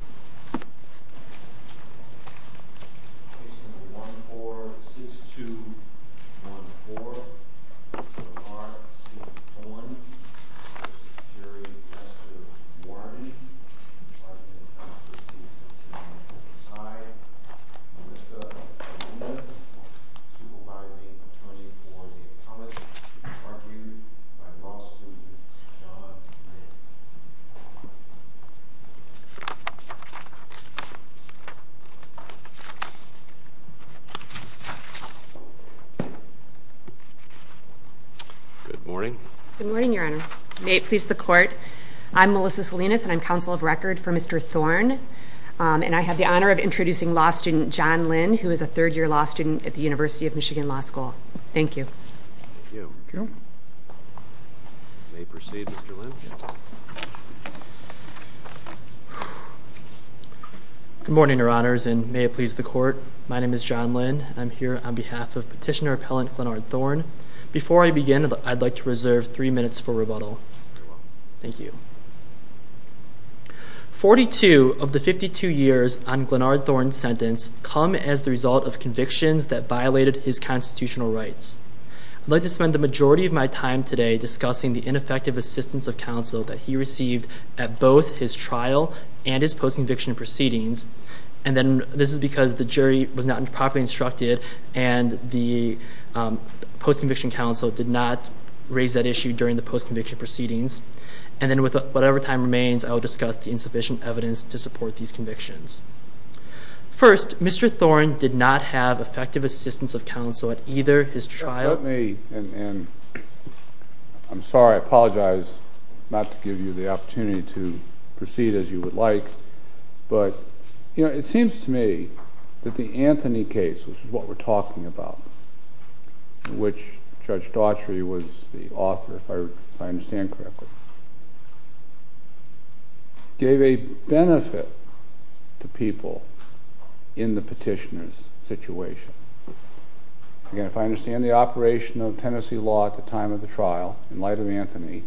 Wardens, Vice President Baxter, Sr. Good morning, Your Honor, may it please the Court, I'm Melissa Salinas, and I'm Counsel of Record for Mr. Thorn, and I have the honor of introducing law student John Lynn, who is a third-year law student at the University of Michigan Law School. Thank you. Thank you. You may proceed, Mr. Lynn. Good morning, Your Honors, and may it please the Court, my name is John Lynn, and I'm here on behalf of petitioner-appellant Glenard Thorn. Before I begin, I'd like to reserve three minutes for rebuttal. Thank you. Forty-two of the fifty-two years on Glenard Thorn's sentence come as the result of convictions that violated his constitutional rights. I'd like to spend the majority of my time today discussing the ineffective assistance of counsel that he received at both his trial and his post-conviction proceedings, and then this is because the jury was not properly instructed and the post-conviction counsel did not raise that issue during the post-conviction proceedings. And then with whatever time remains, I will discuss the insufficient evidence to support these convictions. First, Mr. Thorn did not have effective assistance of counsel at either his trial— Let me, and I'm sorry, I apologize not to give you the opportunity to proceed as you would like, but it seems to me that the Anthony case, which is what we're talking about, in which Judge Daughtry was the author, if I understand correctly, gave a benefit to people in the petitioner's situation. Again, if I understand the operation of Tennessee law at the time of the trial, in light of Anthony,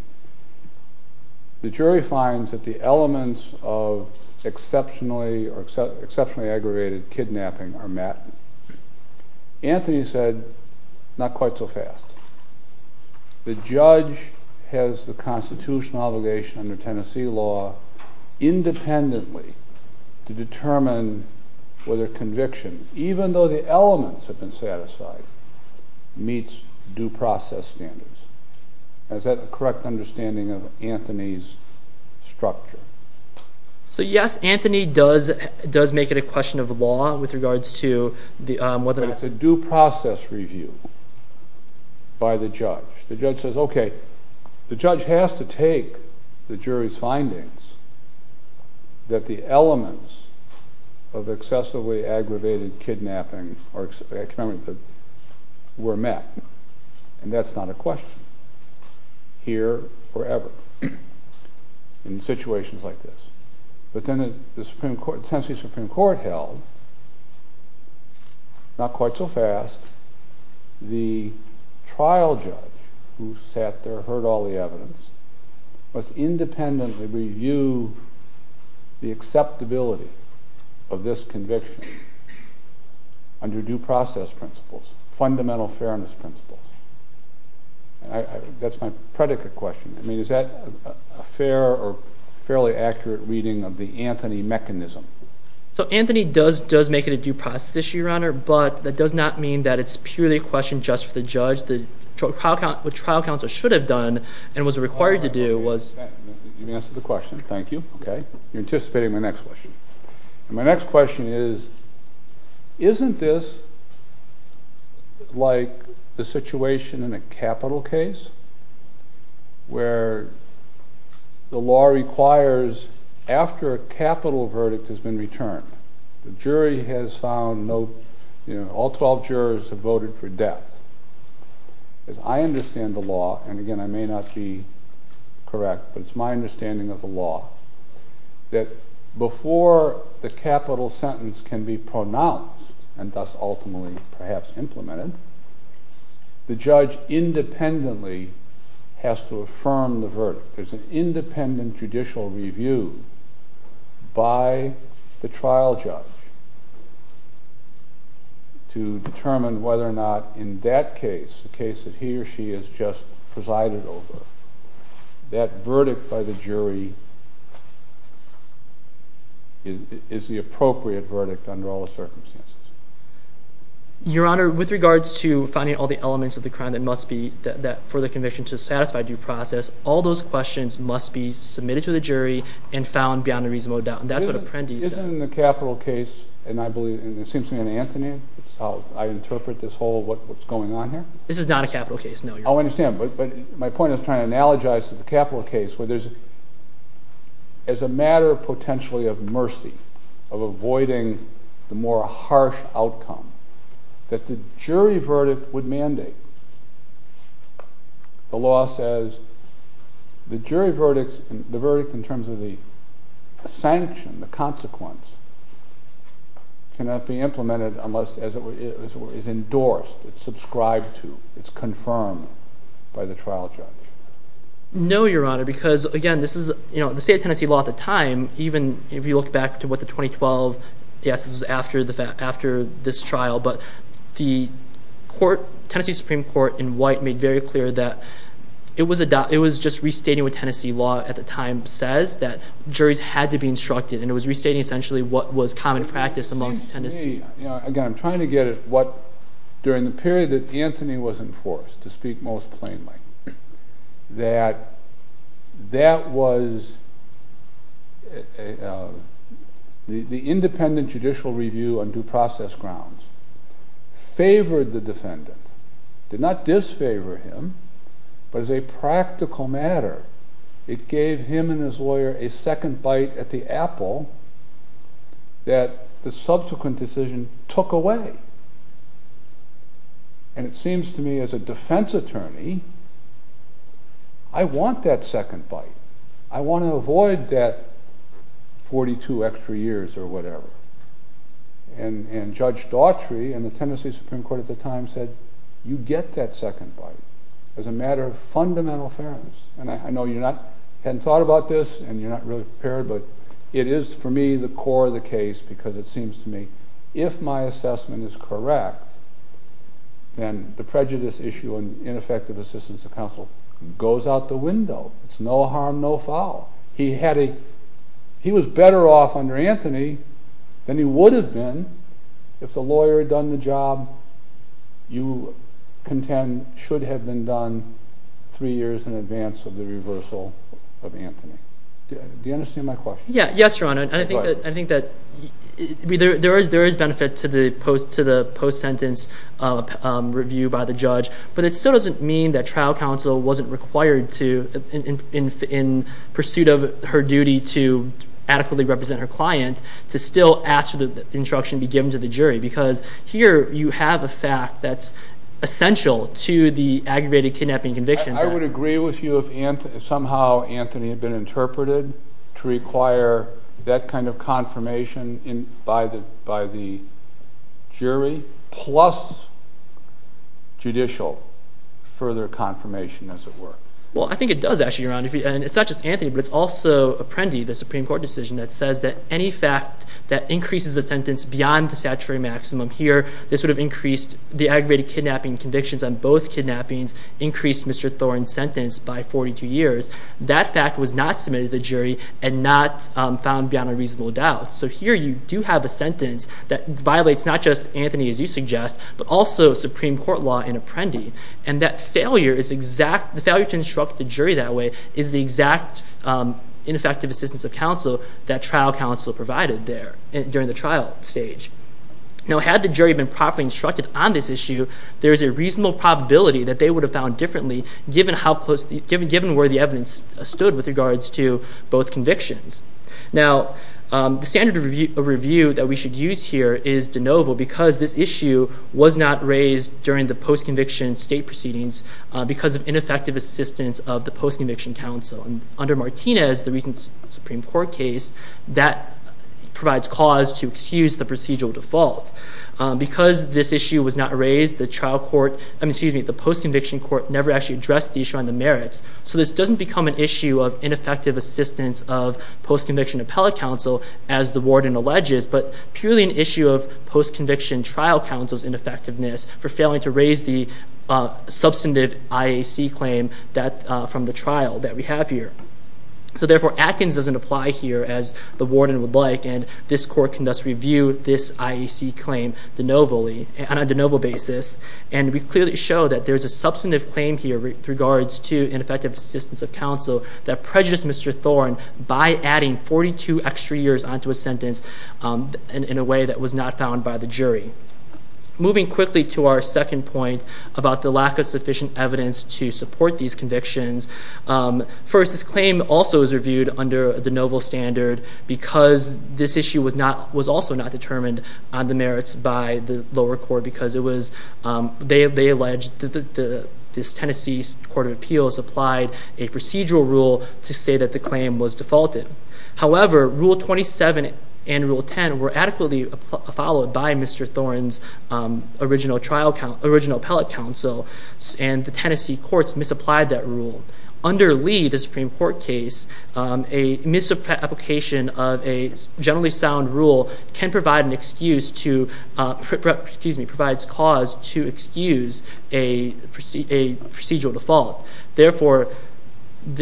the jury finds that the elements of exceptionally aggravated kidnapping are said not quite so fast. The judge has the constitutional obligation under Tennessee law, independently, to determine whether conviction, even though the elements have been satisfied, meets due process standards. Is that the correct understanding of Anthony's structure? So yes, Anthony does make it a question of law with regards to whether— It's a due process review by the judge. The judge says, okay, the judge has to take the jury's findings that the elements of excessively aggravated kidnapping were met, and that's not a question, here or ever, in situations like this. But then the Tennessee Supreme Court held, not quite so fast, the trial judge who sat there, heard all the evidence, must independently review the acceptability of this conviction under due process principles, fundamental fairness principles. That's my predicate question. I mean, is that a fair or fairly accurate reading of the Anthony mechanism? So Anthony does make it a due process issue, Your Honor, but that does not mean that it's purely a question just for the judge. What trial counsel should have done and was required to do was— You've answered the question. Thank you. Okay. You're anticipating my next question. My next question is, isn't this like the situation in a capital case where the law requires, after a capital verdict has been returned, the jury has found no—all 12 jurors have voted for death. I understand the law, and again, I may not be correct, but it's my understanding of the Before the capital sentence can be pronounced, and thus ultimately perhaps implemented, the judge independently has to affirm the verdict. There's an independent judicial review by the trial judge to determine whether or not in that case, the case that he or she has just presided over, that verdict by the jury is the appropriate verdict under all the circumstances. Your Honor, with regards to finding all the elements of the crime that must be—for the conviction to satisfy due process, all those questions must be submitted to the jury and found beyond a reasonable doubt, and that's what Apprendi says. Isn't the capital case, and I believe—and it seems to me in Anthony, it's how I interpret this whole—what's going on here. This is not a capital case, no, Your Honor. I understand, but my point is trying to analogize to the capital case where there's—as a matter potentially of mercy, of avoiding the more harsh outcome, that the jury verdict would mandate. The law says the jury verdict, the verdict in terms of the sanction, the consequence, cannot be implemented unless it is endorsed, it's subscribed to, it's confirmed by the trial judge. No, Your Honor, because again, this is—the state of Tennessee law at the time, even if you look back to what the 2012—yes, this is after this trial, but the court, Tennessee Supreme Court in white made very clear that it was just restating what Tennessee law at the time says, that juries had to be instructed, and it was restating essentially what was common practice amongst Tennessee— It seems to me—again, I'm trying to get at what, during the period that Anthony was enforced, to speak most plainly, that that was—the independent judicial review on due process grounds favored the defendant, did not disfavor him, but as a practical matter, it gave him and his lawyer a second bite at the apple that the subsequent decision took away, and it seems to me as a defense attorney, I want that second bite, I want to avoid that 42 extra years or whatever, and Judge Daughtry and the Tennessee Supreme Court at the time said, you get that second bite as a matter of fundamental fairness, and I know you're not—hadn't thought about this, and you're not really prepared, but it is for me the core of the case, because it seems to me, if my assessment is correct, then the prejudice issue and ineffective assistance of counsel goes out the window, it's no harm, no foul. He had a—he was better off under Anthony than he would have been if the lawyer had done the job you contend should have been done three years in advance of the reversal of Anthony. Do you understand my question? Yeah, yes, Your Honor, and I think that there is benefit to the post-sentence review by the judge, but it still doesn't mean that trial counsel wasn't required to, in pursuit of her duty to adequately represent her client, to still ask for the instruction to be given to the jury, because here you have a fact that's essential to the aggravated kidnapping conviction that— I would agree with you if somehow Anthony had been interpreted to require that kind of confirmation by the jury, plus judicial further confirmation, as it were. Well, I think it does, actually, Your Honor, and it's not just Anthony, but it's also Apprendi, the Supreme Court decision that says that any fact that increases the sentence beyond the statutory maximum here, this would have increased the aggravated kidnapping convictions on both kidnappings, increased Mr. Thorne's sentence by 42 years. That fact was not submitted to the jury and not found beyond a reasonable doubt. So here you do have a sentence that violates not just Anthony, as you suggest, but also Supreme Court law in Apprendi. And that failure is exact—the failure to instruct the jury that way is the exact ineffective assistance of counsel that trial counsel provided there during the trial stage. Now, had the jury been properly instructed on this issue, there is a reasonable probability that they would have found differently, given how close—given where the evidence stood with regards to both convictions. Now, the standard of review that we should use here is de novo because this issue was not raised during the post-conviction state proceedings because of ineffective assistance of the post-conviction counsel. Under Martinez, the recent Supreme Court case, that provides cause to excuse the procedural default. Because this issue was not raised, the trial court—I mean, excuse me, the post-conviction court never actually addressed the issue on the merits, so this doesn't become an issue of ineffective assistance of post-conviction appellate counsel, as the warden alleges, but purely an issue of post-conviction trial counsel's ineffectiveness for failing to raise the substantive IAC claim from the trial that we have here. So therefore, Atkins doesn't apply here, as the warden would like, and this court can thus review this IAC claim de novo—on a de novo basis, and we clearly show that there's a substantive claim here with regards to ineffective assistance of counsel that prejudiced Mr. Thorne by adding 42 extra years onto a sentence in a way that was not found by the jury. Moving quickly to our second point about the lack of sufficient evidence to support these convictions, first, this claim also is reviewed under a de novo standard because this issue was also not determined on the merits by the lower court because it was—they allege that this Tennessee Court of Appeals applied a procedural rule to say that the claim was defaulted. However, Rule 27 and Rule 10 were adequately followed by Mr. Thorne's original appellate counsel, and the Tennessee courts misapplied that rule. Under Lee, the Supreme Court's misapplication of a generally sound rule can provide an excuse to—excuse me, provides cause to excuse a procedural default. Therefore,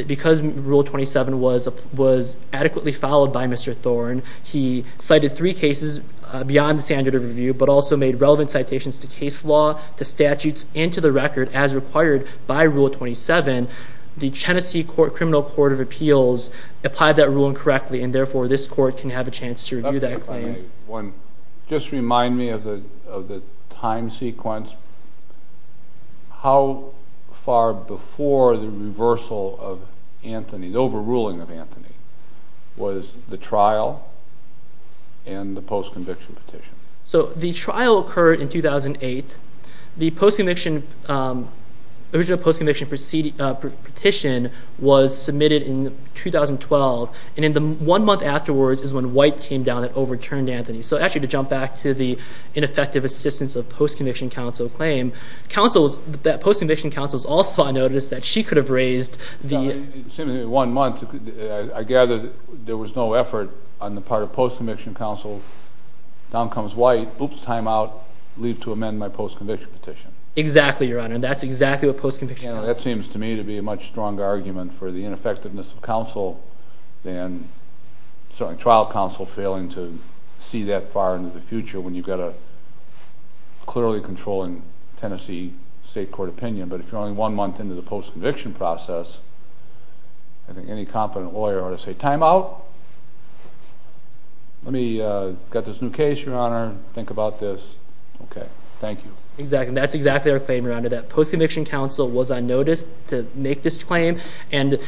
because Rule 27 was adequately followed by Mr. Thorne, he cited three cases beyond the standard of review but also made relevant citations to case law, to statutes, and to the record as required by Rule 27. The Tennessee Criminal Court of Appeals applied that rule incorrectly, and therefore, this court can have a chance to review that claim. Let me clarify one. Just remind me of the time sequence. How far before the reversal of Anthony, the overruling of Anthony, was the trial and the post-conviction petition? So the trial occurred in 2008. The post-conviction—the original post-conviction petition was submitted in 2012, and then the one month afterwards is when White came down and overturned Anthony. So actually, to jump back to the ineffective assistance of post-conviction counsel claim, counsels—that post-conviction counsel also noticed that she could have raised the— Well, it seemed to me that one month, I gathered there was no effort on the part of post-conviction counsel, down comes White, oops, time out, leave to amend my post-conviction petition. Exactly, Your Honor. That's exactly what post-conviction counsel— That seems to me to be a much stronger argument for the ineffectiveness of counsel than, sorry, trial counsel failing to see that far into the future when you've got a clearly controlling Tennessee state court opinion. But if you're only one month into the post-conviction process, I think any competent lawyer ought to say, time out, let me get this new case, Your Honor, think about this. Okay, thank you. Exactly, that's exactly our claim, Your Honor, that post-conviction counsel was unnoticed to make this claim, and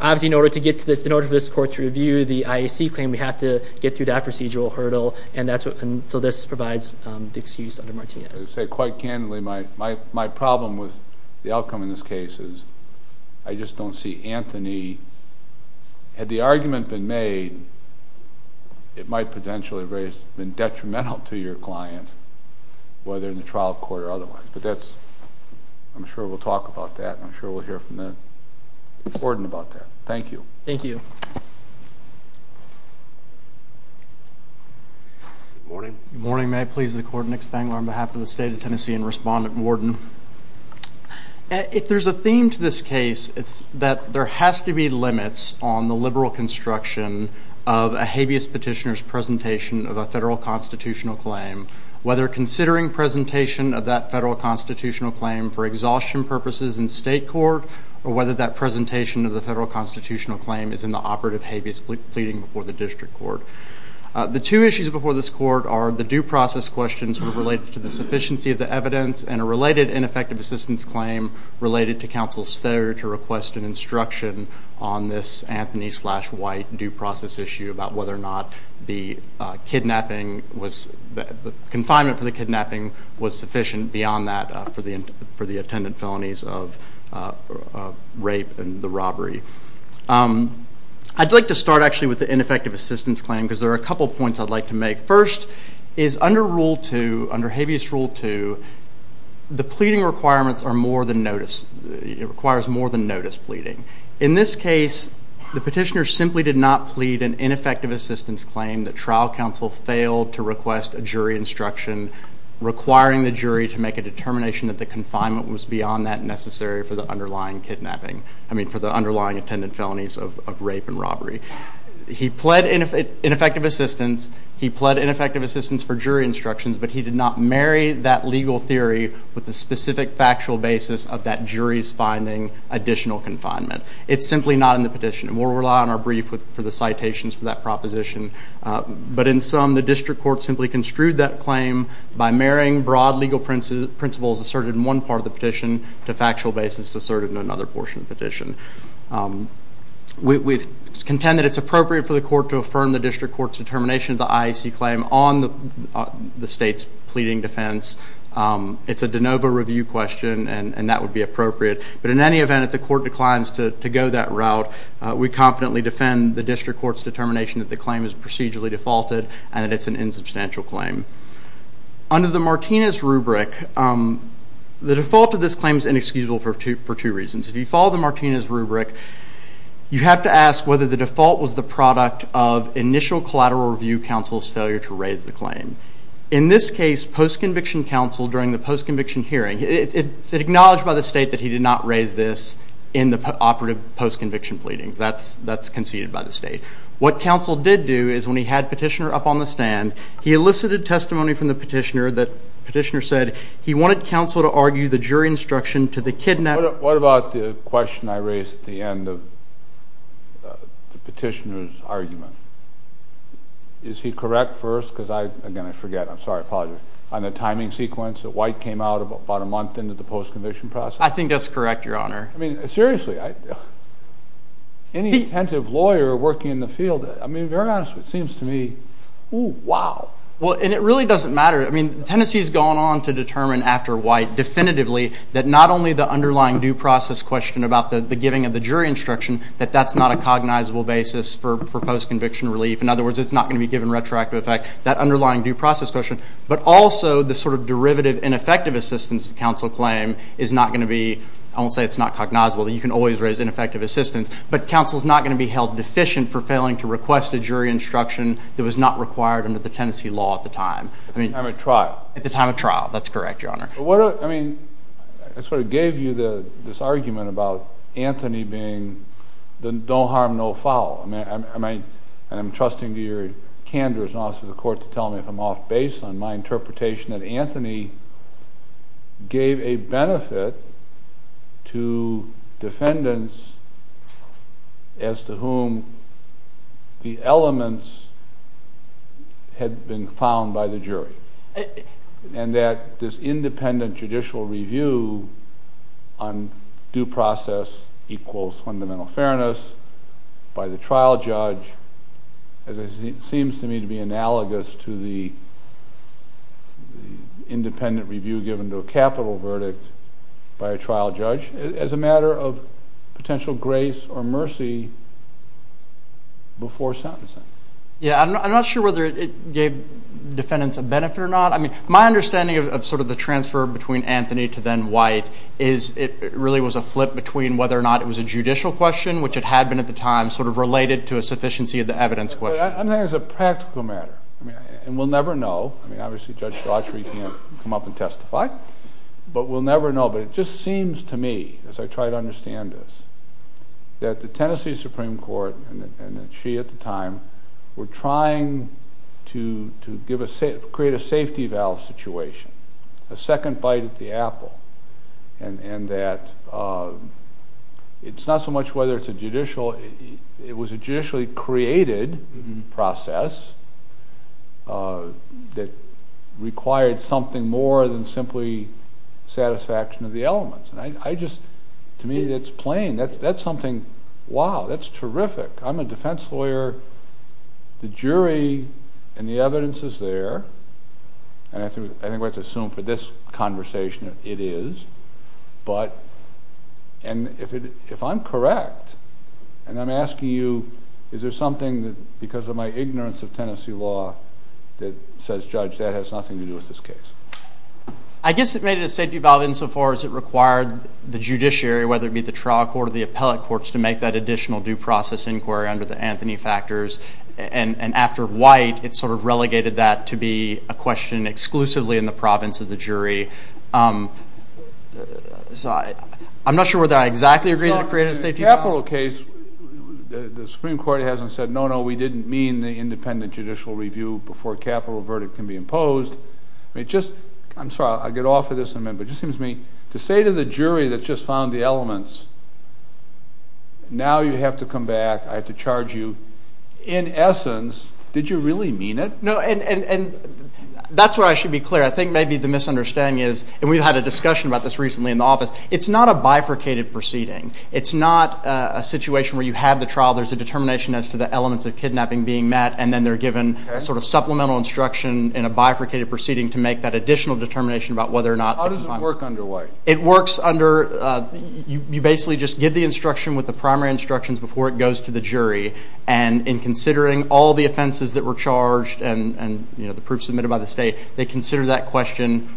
obviously in order to get to this—in order for this court to review the IAC claim, we have to get through that procedural hurdle, and that's what—and so this provides the excuse under Martinez. I would say quite Anthony, had the argument been made, it might potentially have been detrimental to your client, whether in the trial court or otherwise, but that's—I'm sure we'll talk about that. I'm sure we'll hear from the warden about that. Thank you. Thank you. Good morning. Good morning. May it please the court, Nick Spangler on behalf of the State of Tennessee and Respondent Warden. If there's a theme to this case, it's that there has to be limits on the liberal construction of a habeas petitioner's presentation of a federal constitutional claim, whether considering presentation of that federal constitutional claim for exhaustion purposes in state court, or whether that presentation of the federal constitutional claim is in the operative habeas pleading before the district court. The two issues before this court are the due process questions related to the sufficiency of the evidence and a related ineffective assistance claim related to counsel's failure to request an instruction on this Anthony slash White due process issue about whether or not the kidnapping was—the confinement for the kidnapping was sufficient beyond that for the attendant felonies of rape and the robbery. I'd like to start actually with the ineffective assistance claim because there are a couple points I'd like to make. First, is under Rule 2, under habeas Rule 2, the pleading requirements are more than notice. It requires more than notice pleading. In this case, the petitioner simply did not plead an ineffective assistance claim. The trial counsel failed to request a jury instruction requiring the jury to make a determination that the confinement was beyond that necessary for the underlying kidnapping. I mean, for the underlying attendant felonies of rape and robbery. He pled ineffective assistance. He pled ineffective assistance for jury instructions, but he did not marry that legal theory with the specific factual basis of that jury's finding additional confinement. It's simply not in the petition. And we'll rely on our brief for the citations for that proposition. But in sum, the district court simply construed that claim by marrying broad legal principles asserted in one part of the petition to factual basis asserted in another portion of the petition. We contend that it's appropriate for the court to respond to the state's pleading defense. It's a de novo review question, and that would be appropriate. But in any event, if the court declines to go that route, we confidently defend the district court's determination that the claim is procedurally defaulted and that it's an insubstantial claim. Under the Martinez rubric, the default of this claim is inexcusable for two reasons. If you follow the Martinez rubric, you have to ask whether the default was the product of initial collateral review counsel's failure to raise the claim. In this case, post-conviction counsel during the post-conviction hearing, it's acknowledged by the state that he did not raise this in the operative post-conviction pleadings. That's conceded by the state. What counsel did do is when he had petitioner up on the stand, he elicited testimony from the petitioner that petitioner said he wanted counsel to argue the jury instruction to the kidnap. What about the question I raised at the end of the petitioner's argument? Is he correct first? Because I, again, I forget. I'm sorry. I apologize. On the timing sequence, that White came out about a month into the post-conviction process? I think that's correct, Your Honor. I mean, seriously, any attentive lawyer working in the field, I mean, very honestly, it seems to me, oh, wow. Well, and it really doesn't matter. I mean, Tennessee's gone on to determine after White definitively that not only the underlying due process question about the giving of the jury instruction, that that's not a cognizable basis for post-conviction relief. In other words, it's not going to be given retroactive effect, that underlying due process question, but also the sort of derivative ineffective assistance counsel claim is not going to be, I won't say it's not cognizable, that you can always raise ineffective assistance, but counsel's not going to be held deficient for failing to request a jury instruction that was not required under the Tennessee law at the time. At the time of trial. At the time of trial. That's correct, Your Honor. I mean, I sort of gave you this argument about Anthony being the no harm, no foul. I mean, and I'm trusting your candor as an officer of the court to tell me if I'm off base on my interpretation that Anthony gave a benefit to defendants as to whom the elements had been found by the jury. And that this independent judicial review on due process equals fundamental fairness by the trial judge, as it seems to me to be analogous to the independent review given to a capital verdict by a trial judge as a matter of potential grace or mercy before sentencing. Yeah, I'm not sure whether it gave defendants a benefit or not. I mean, my understanding of sort of the transfer between Anthony to then White is it really was a flip between whether or not it was a judicial question, which it had been at the time, sort of related to a sufficiency of the evidence question. I'm saying it's a practical matter. I mean, and we'll never know. I mean, obviously, Judge Daughtry can't come up and testify, but we'll never know. But it just seems to me, as I try to understand this, that the Tennessee Supreme Court, and she at the time, were trying to create a safety valve situation, a second bite at the apple. And that it's not so much whether it's a judicial, it was a judicially created process that required something more than simply satisfaction of the elements. And I just, to me, that's plain. That's something, wow, that's terrific. I'm a defense lawyer. The jury and the evidence is there. And I think we have to assume for this conversation, it is. But, and if I'm correct, and I'm asking you, is there something that, because of my ignorance of Tennessee law, that says, that has nothing to do with this case? I guess it made it a safety valve insofar as it required the judiciary, whether it be the trial court or the appellate courts, to make that additional due process inquiry under the Anthony factors. And after White, it sort of relegated that to be a question exclusively in the province of the jury. So I'm not sure whether I exactly agree that it created a safety valve. The Supreme Court hasn't said, no, no, we didn't mean the imposed. I mean, just, I'm sorry, I'll get off of this in a minute, but it just seems to me, to say to the jury that just found the elements, now you have to come back, I have to charge you, in essence, did you really mean it? No, and that's where I should be clear. I think maybe the misunderstanding is, and we've had a discussion about this recently in the office, it's not a bifurcated proceeding. It's not a situation where you have the trial, there's a determination as to the elements of kidnapping being met, and then they're given supplemental instruction in a bifurcated proceeding to make that additional determination about whether or not... How does it work under White? It works under, you basically just give the instruction with the primary instructions before it goes to the jury, and in considering all the offenses that were charged and the proof submitted by the state, they consider that question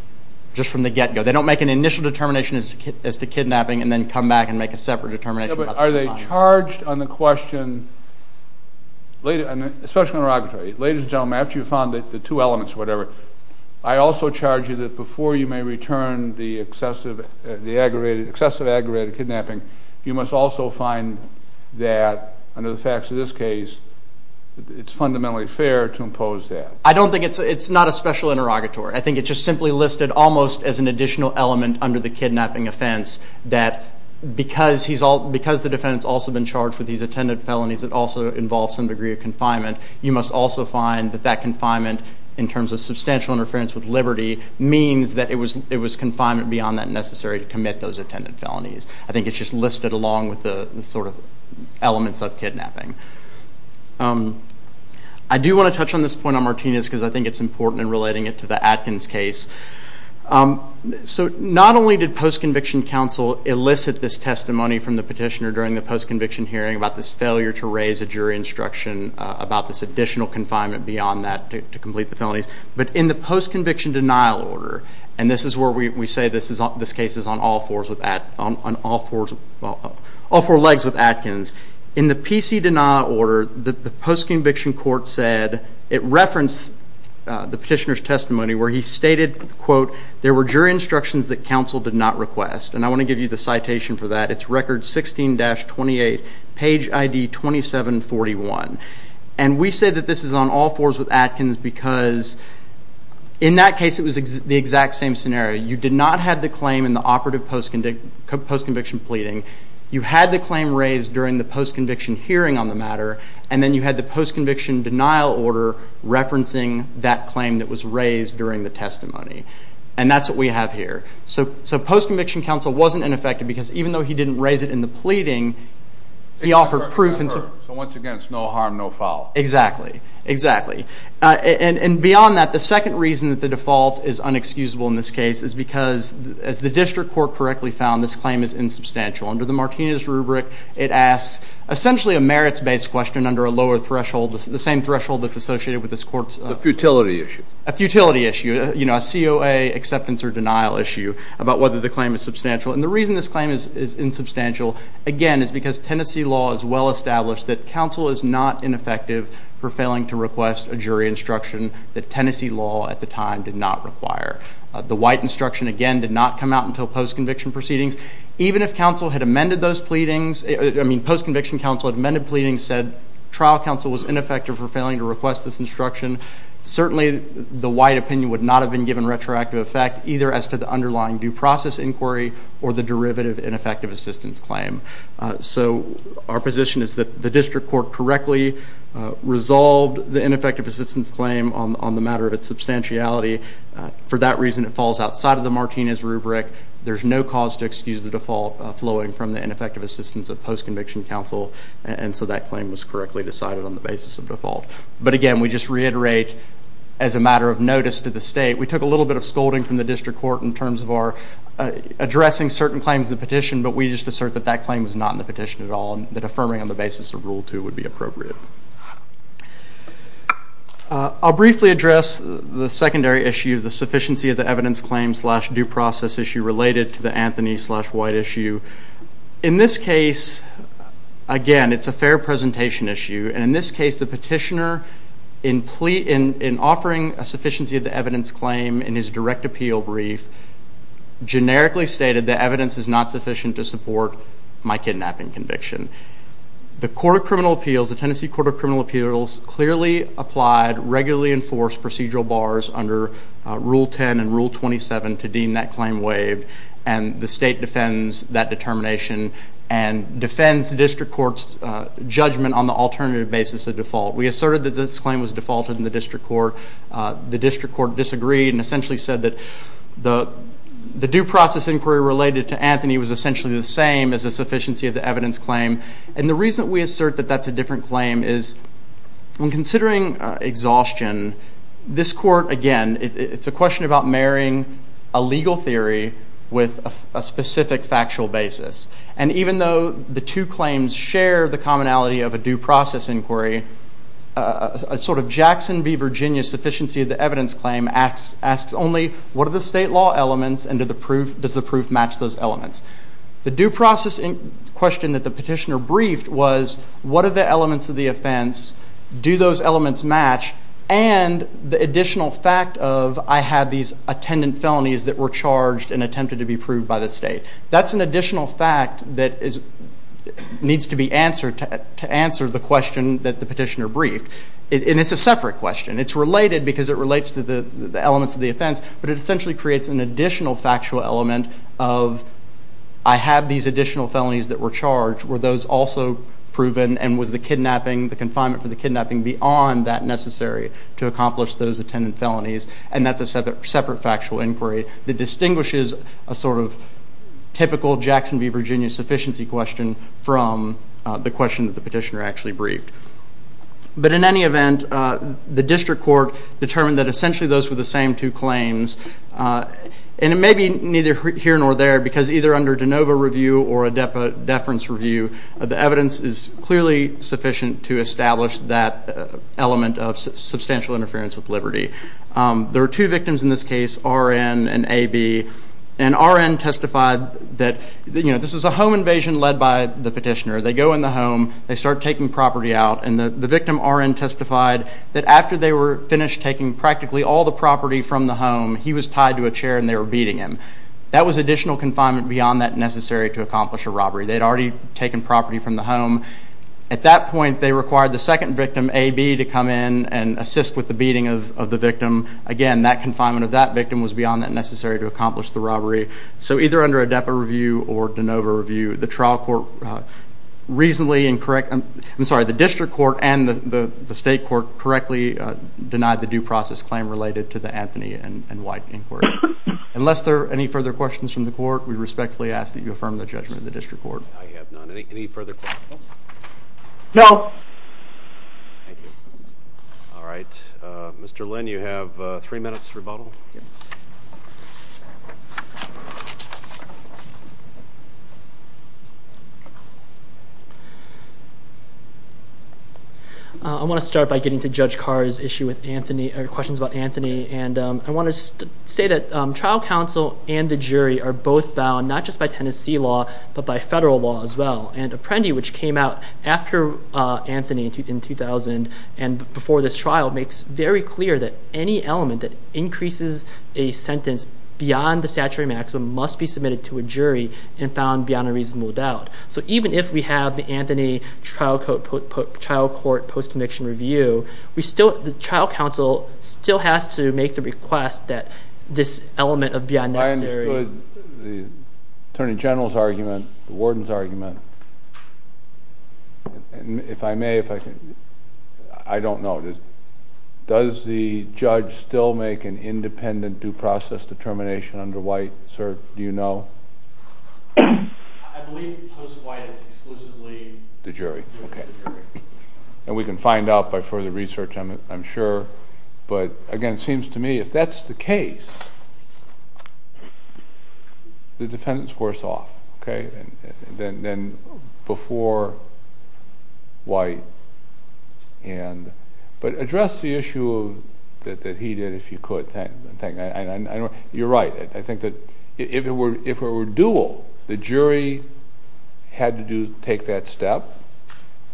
just from the get-go. They don't make an initial determination as to kidnapping and then come back and make a separate determination about... Yeah, but are they charged on the Ladies and gentlemen, after you've found the two elements or whatever, I also charge you that before you may return the excessive aggravated kidnapping, you must also find that, under the facts of this case, it's fundamentally fair to impose that. I don't think it's... It's not a special interrogatory. I think it's just simply listed almost as an additional element under the kidnapping offense, that because the defendant's also been charged with these attendant felonies, it also involves some degree of confinement. You must also find that that confinement, in terms of substantial interference with liberty, means that it was confinement beyond that necessary to commit those attendant felonies. I think it's just listed along with the elements of kidnapping. I do want to touch on this point on Martinez, because I think it's important in relating it to the Atkins case. So not only did post-conviction counsel elicit this testimony from the petitioner during the post-conviction hearing about this failure to raise a jury instruction about this additional confinement beyond that to complete the felonies, but in the post-conviction denial order, and this is where we say this case is on all four legs with Atkins. In the PC denial order, the post-conviction court said... It referenced the petitioner's testimony where he stated, quote, there were jury instructions that counsel did not request. And I want to give you the citation for that. It's record 16-28, page ID 2741. And we say that this is on all fours with Atkins because in that case it was the exact same scenario. You did not have the claim in the operative post-conviction pleading. You had the claim raised during the post-conviction hearing on the matter, and then you had the post-conviction denial order referencing that claim that was raised during the testimony. And that's what we have here. So post-conviction counsel wasn't ineffective because even though he didn't raise it in the pleading, he offered proof... So once again, it's no harm, no foul. Exactly. And beyond that, the second reason that the default is unexcusable in this case is because as the district court correctly found, this claim is insubstantial. Under the Martinez rubric, it asks essentially a merits-based question under a lower threshold, the same threshold that's associated with this court's... DOA acceptance or denial issue about whether the claim is substantial. And the reason this claim is insubstantial, again, is because Tennessee law is well established that counsel is not ineffective for failing to request a jury instruction that Tennessee law at the time did not require. The white instruction, again, did not come out until post-conviction proceedings. Even if counsel had amended those pleadings... I mean, post-conviction counsel had amended pleadings, said trial counsel was ineffective for failing to request this instruction, certainly the white opinion would not have been given retroactive effect either as to the underlying due process inquiry or the derivative ineffective assistance claim. So our position is that the district court correctly resolved the ineffective assistance claim on the matter of its substantiality. For that reason, it falls outside of the Martinez rubric. There's no cause to excuse the default flowing from the ineffective assistance of post-conviction counsel. And so that claim was correctly decided on the basis of default. But again, we just reiterate, as a matter of notice to the state, we took a little bit of scolding from the district court in terms of our addressing certain claims in the petition, but we just assert that that claim was not in the petition at all and that affirming on the basis of Rule 2 would be appropriate. I'll briefly address the secondary issue, the sufficiency of the evidence claim slash due process issue related to the Anthony slash white issue. In this case, again, it's a fair presentation issue. And in this case, the petitioner, in offering a sufficiency of the evidence claim in his direct appeal brief, generically stated that evidence is not sufficient to support my kidnapping conviction. The court of criminal appeals, the Tennessee Court of Criminal Appeals, clearly applied regularly enforced procedural bars under Rule 10 and Rule 27 to deem that claim waived. And the state defends that determination and defends the district court's judgment on the alternative basis of default. We asserted that this claim was defaulted in the district court. The district court disagreed and essentially said that the due process inquiry related to Anthony was essentially the same as the sufficiency of the evidence claim. And the reason that we assert that that's a different claim is when considering exhaustion, this court, again, it's a question about marrying a legal theory with a specific factual basis. And even though the two claims share the commonality of a due process inquiry, a sort of Jackson v. Virginia sufficiency of the evidence claim asks only what are the state law elements and does the proof match those elements? The due process question that the petitioner briefed was what are the elements of the offense, do those elements match, and the additional fact of I have these attendant felonies that were charged and attempted to be proved by the state. That's an additional fact that needs to be answered to answer the question that the petitioner briefed. And it's a separate question. It's related because it relates to the elements of the offense, but it essentially creates an additional factual element of I have these additional felonies that were charged. Were those also proven and was the kidnapping, the confinement for the kidnapping beyond that necessary to accomplish those attendant felonies? And that's a separate factual inquiry that distinguishes a sort of typical Jackson v. Virginia sufficiency question from the question that the petitioner actually briefed. But in any event, the district court determined that essentially those were the same two claims. And it may be neither here nor there because either under de novo review or a deference review, the evidence is clearly sufficient to establish that element of substantial interference with liberty. There are two victims in this case, R.N. and A.B. And R.N. testified that this is a home invasion led by the petitioner. They go in the home. They start taking property out. And the victim, R.N., testified that after they were finished taking practically all the property from the home, he was tied to a chair and they were beating him. That was additional confinement beyond that necessary to accomplish a robbery. They had already taken property from the home. At that point, they required the second victim, A.B., to come in and assist with the beating of the victim. Again, that confinement of that victim was beyond that necessary to accomplish the robbery. So either under a depa review or de novo review, the district court and the state court correctly denied the due process claim related to the Anthony and White inquiry. Unless there are any further questions from the court, we respectfully ask that you affirm the judgment of the district court. I have none. Any further questions? No. Thank you. All right. Mr. Lin, you have three minutes to rebuttal. I want to start by getting to Judge Carr's question about Anthony. I want to say that trial counsel and the jury are both bound, not just by Anthony in 2000 and before this trial, makes very clear that any element that increases a sentence beyond the statutory maximum must be submitted to a jury and found beyond a reasonable doubt. So even if we have the Anthony trial court post-conviction review, the trial counsel still has to make the request that this element of beyond necessary... I understood the question. I don't know. Does the judge still make an independent due process determination under White? Sir, do you know? I believe post-White it's exclusively the jury. And we can find out by further research, I'm sure. But again, it seems to me if that's the case, the defendant's worse off. Then before White. But address the issue that he did, if you could. You're right. I think that if it were dual, the jury had to take that step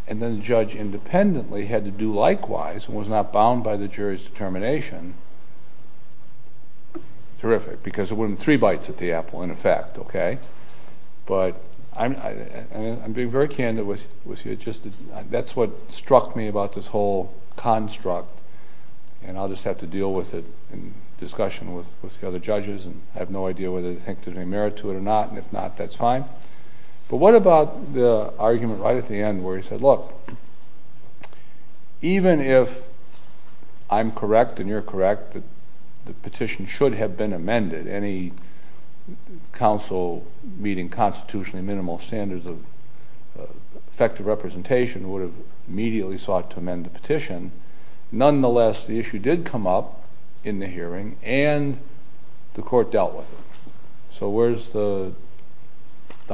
and then the judge independently had to do likewise and was not bound by the jury's determination. Terrific. Because it wouldn't be three bites at the apple in effect. But I'm being very candid with you. That's what struck me about this whole construct and I'll just have to deal with it in discussion with the other judges. I have no idea whether they think there's any merit to it or not. And if not, that's fine. But what about the argument right at the end where he said, look, even if I'm correct and you're correct that the petition should have been amended, any council meeting constitutionally minimal standards of effective representation would have immediately sought to amend the petition. Nonetheless, the issue did come up in the hearing and the court dealt with it. So where's the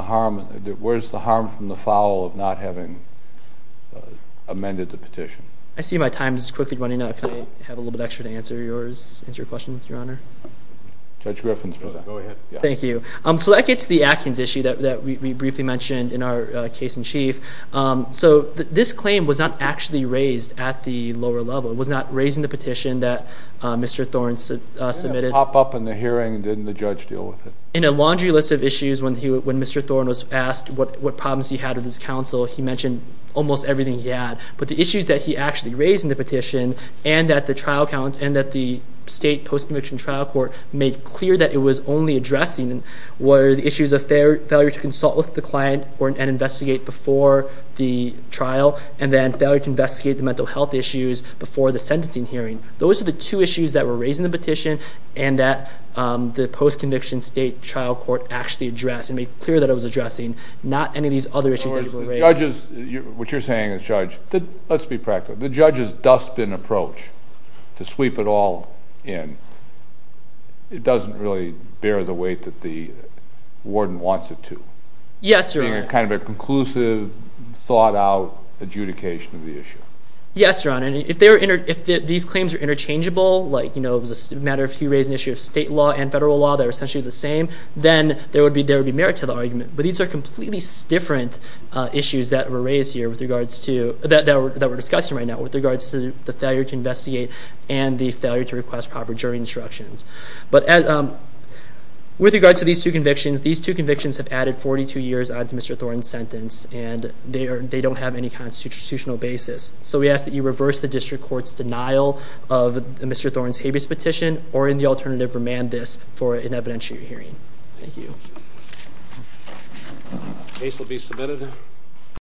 harm from the foul of not having amended the petition? I see my time is quickly running out. Can I have a little bit extra to answer your question, Your Honor? Judge Griffin's present. Go ahead. Thank you. So that gets to the Atkins issue that we briefly mentioned in our case in chief. So this claim was not actually raised at the lower level. It was not raised in the petition that Mr. Thorne submitted. It didn't pop up in the hearing and didn't the judge deal with it? In a laundry list of issues when Mr. Thorne was asked what problems he had with his counsel, he mentioned almost everything he had. But the issues that he actually raised in the petition and that the state post-conviction trial court made clear that it was only addressing were the issues of failure to consult with the client and investigate before the trial and then failure to investigate the and that the post-conviction state trial court actually addressed and made clear that it was addressing not any of these other issues that were raised. In other words, what you're saying is Judge, let's be practical, the judge's dustbin approach to sweep it all in doesn't really bear the weight that the warden wants it to. Yes, Your Honor. Being kind of a conclusive, thought out adjudication of the issue. Yes, Your Honor. If these claims are interchangeable, like it was a matter of if he raised an issue of state law and federal law that are essentially the same, then there would be merit to the argument. But these are completely different issues that were discussed here with regards to the failure to investigate and the failure to request proper jury instructions. With regards to these two convictions, these two convictions have added 42 years on to Mr. Thorne's sentence and they don't have any constitutional basis. So we ask that you reverse the district court's denial of Mr. Thorne's habeas petition or in the alternative, remand this for an evidentiary hearing. Thank you. Case will be submitted.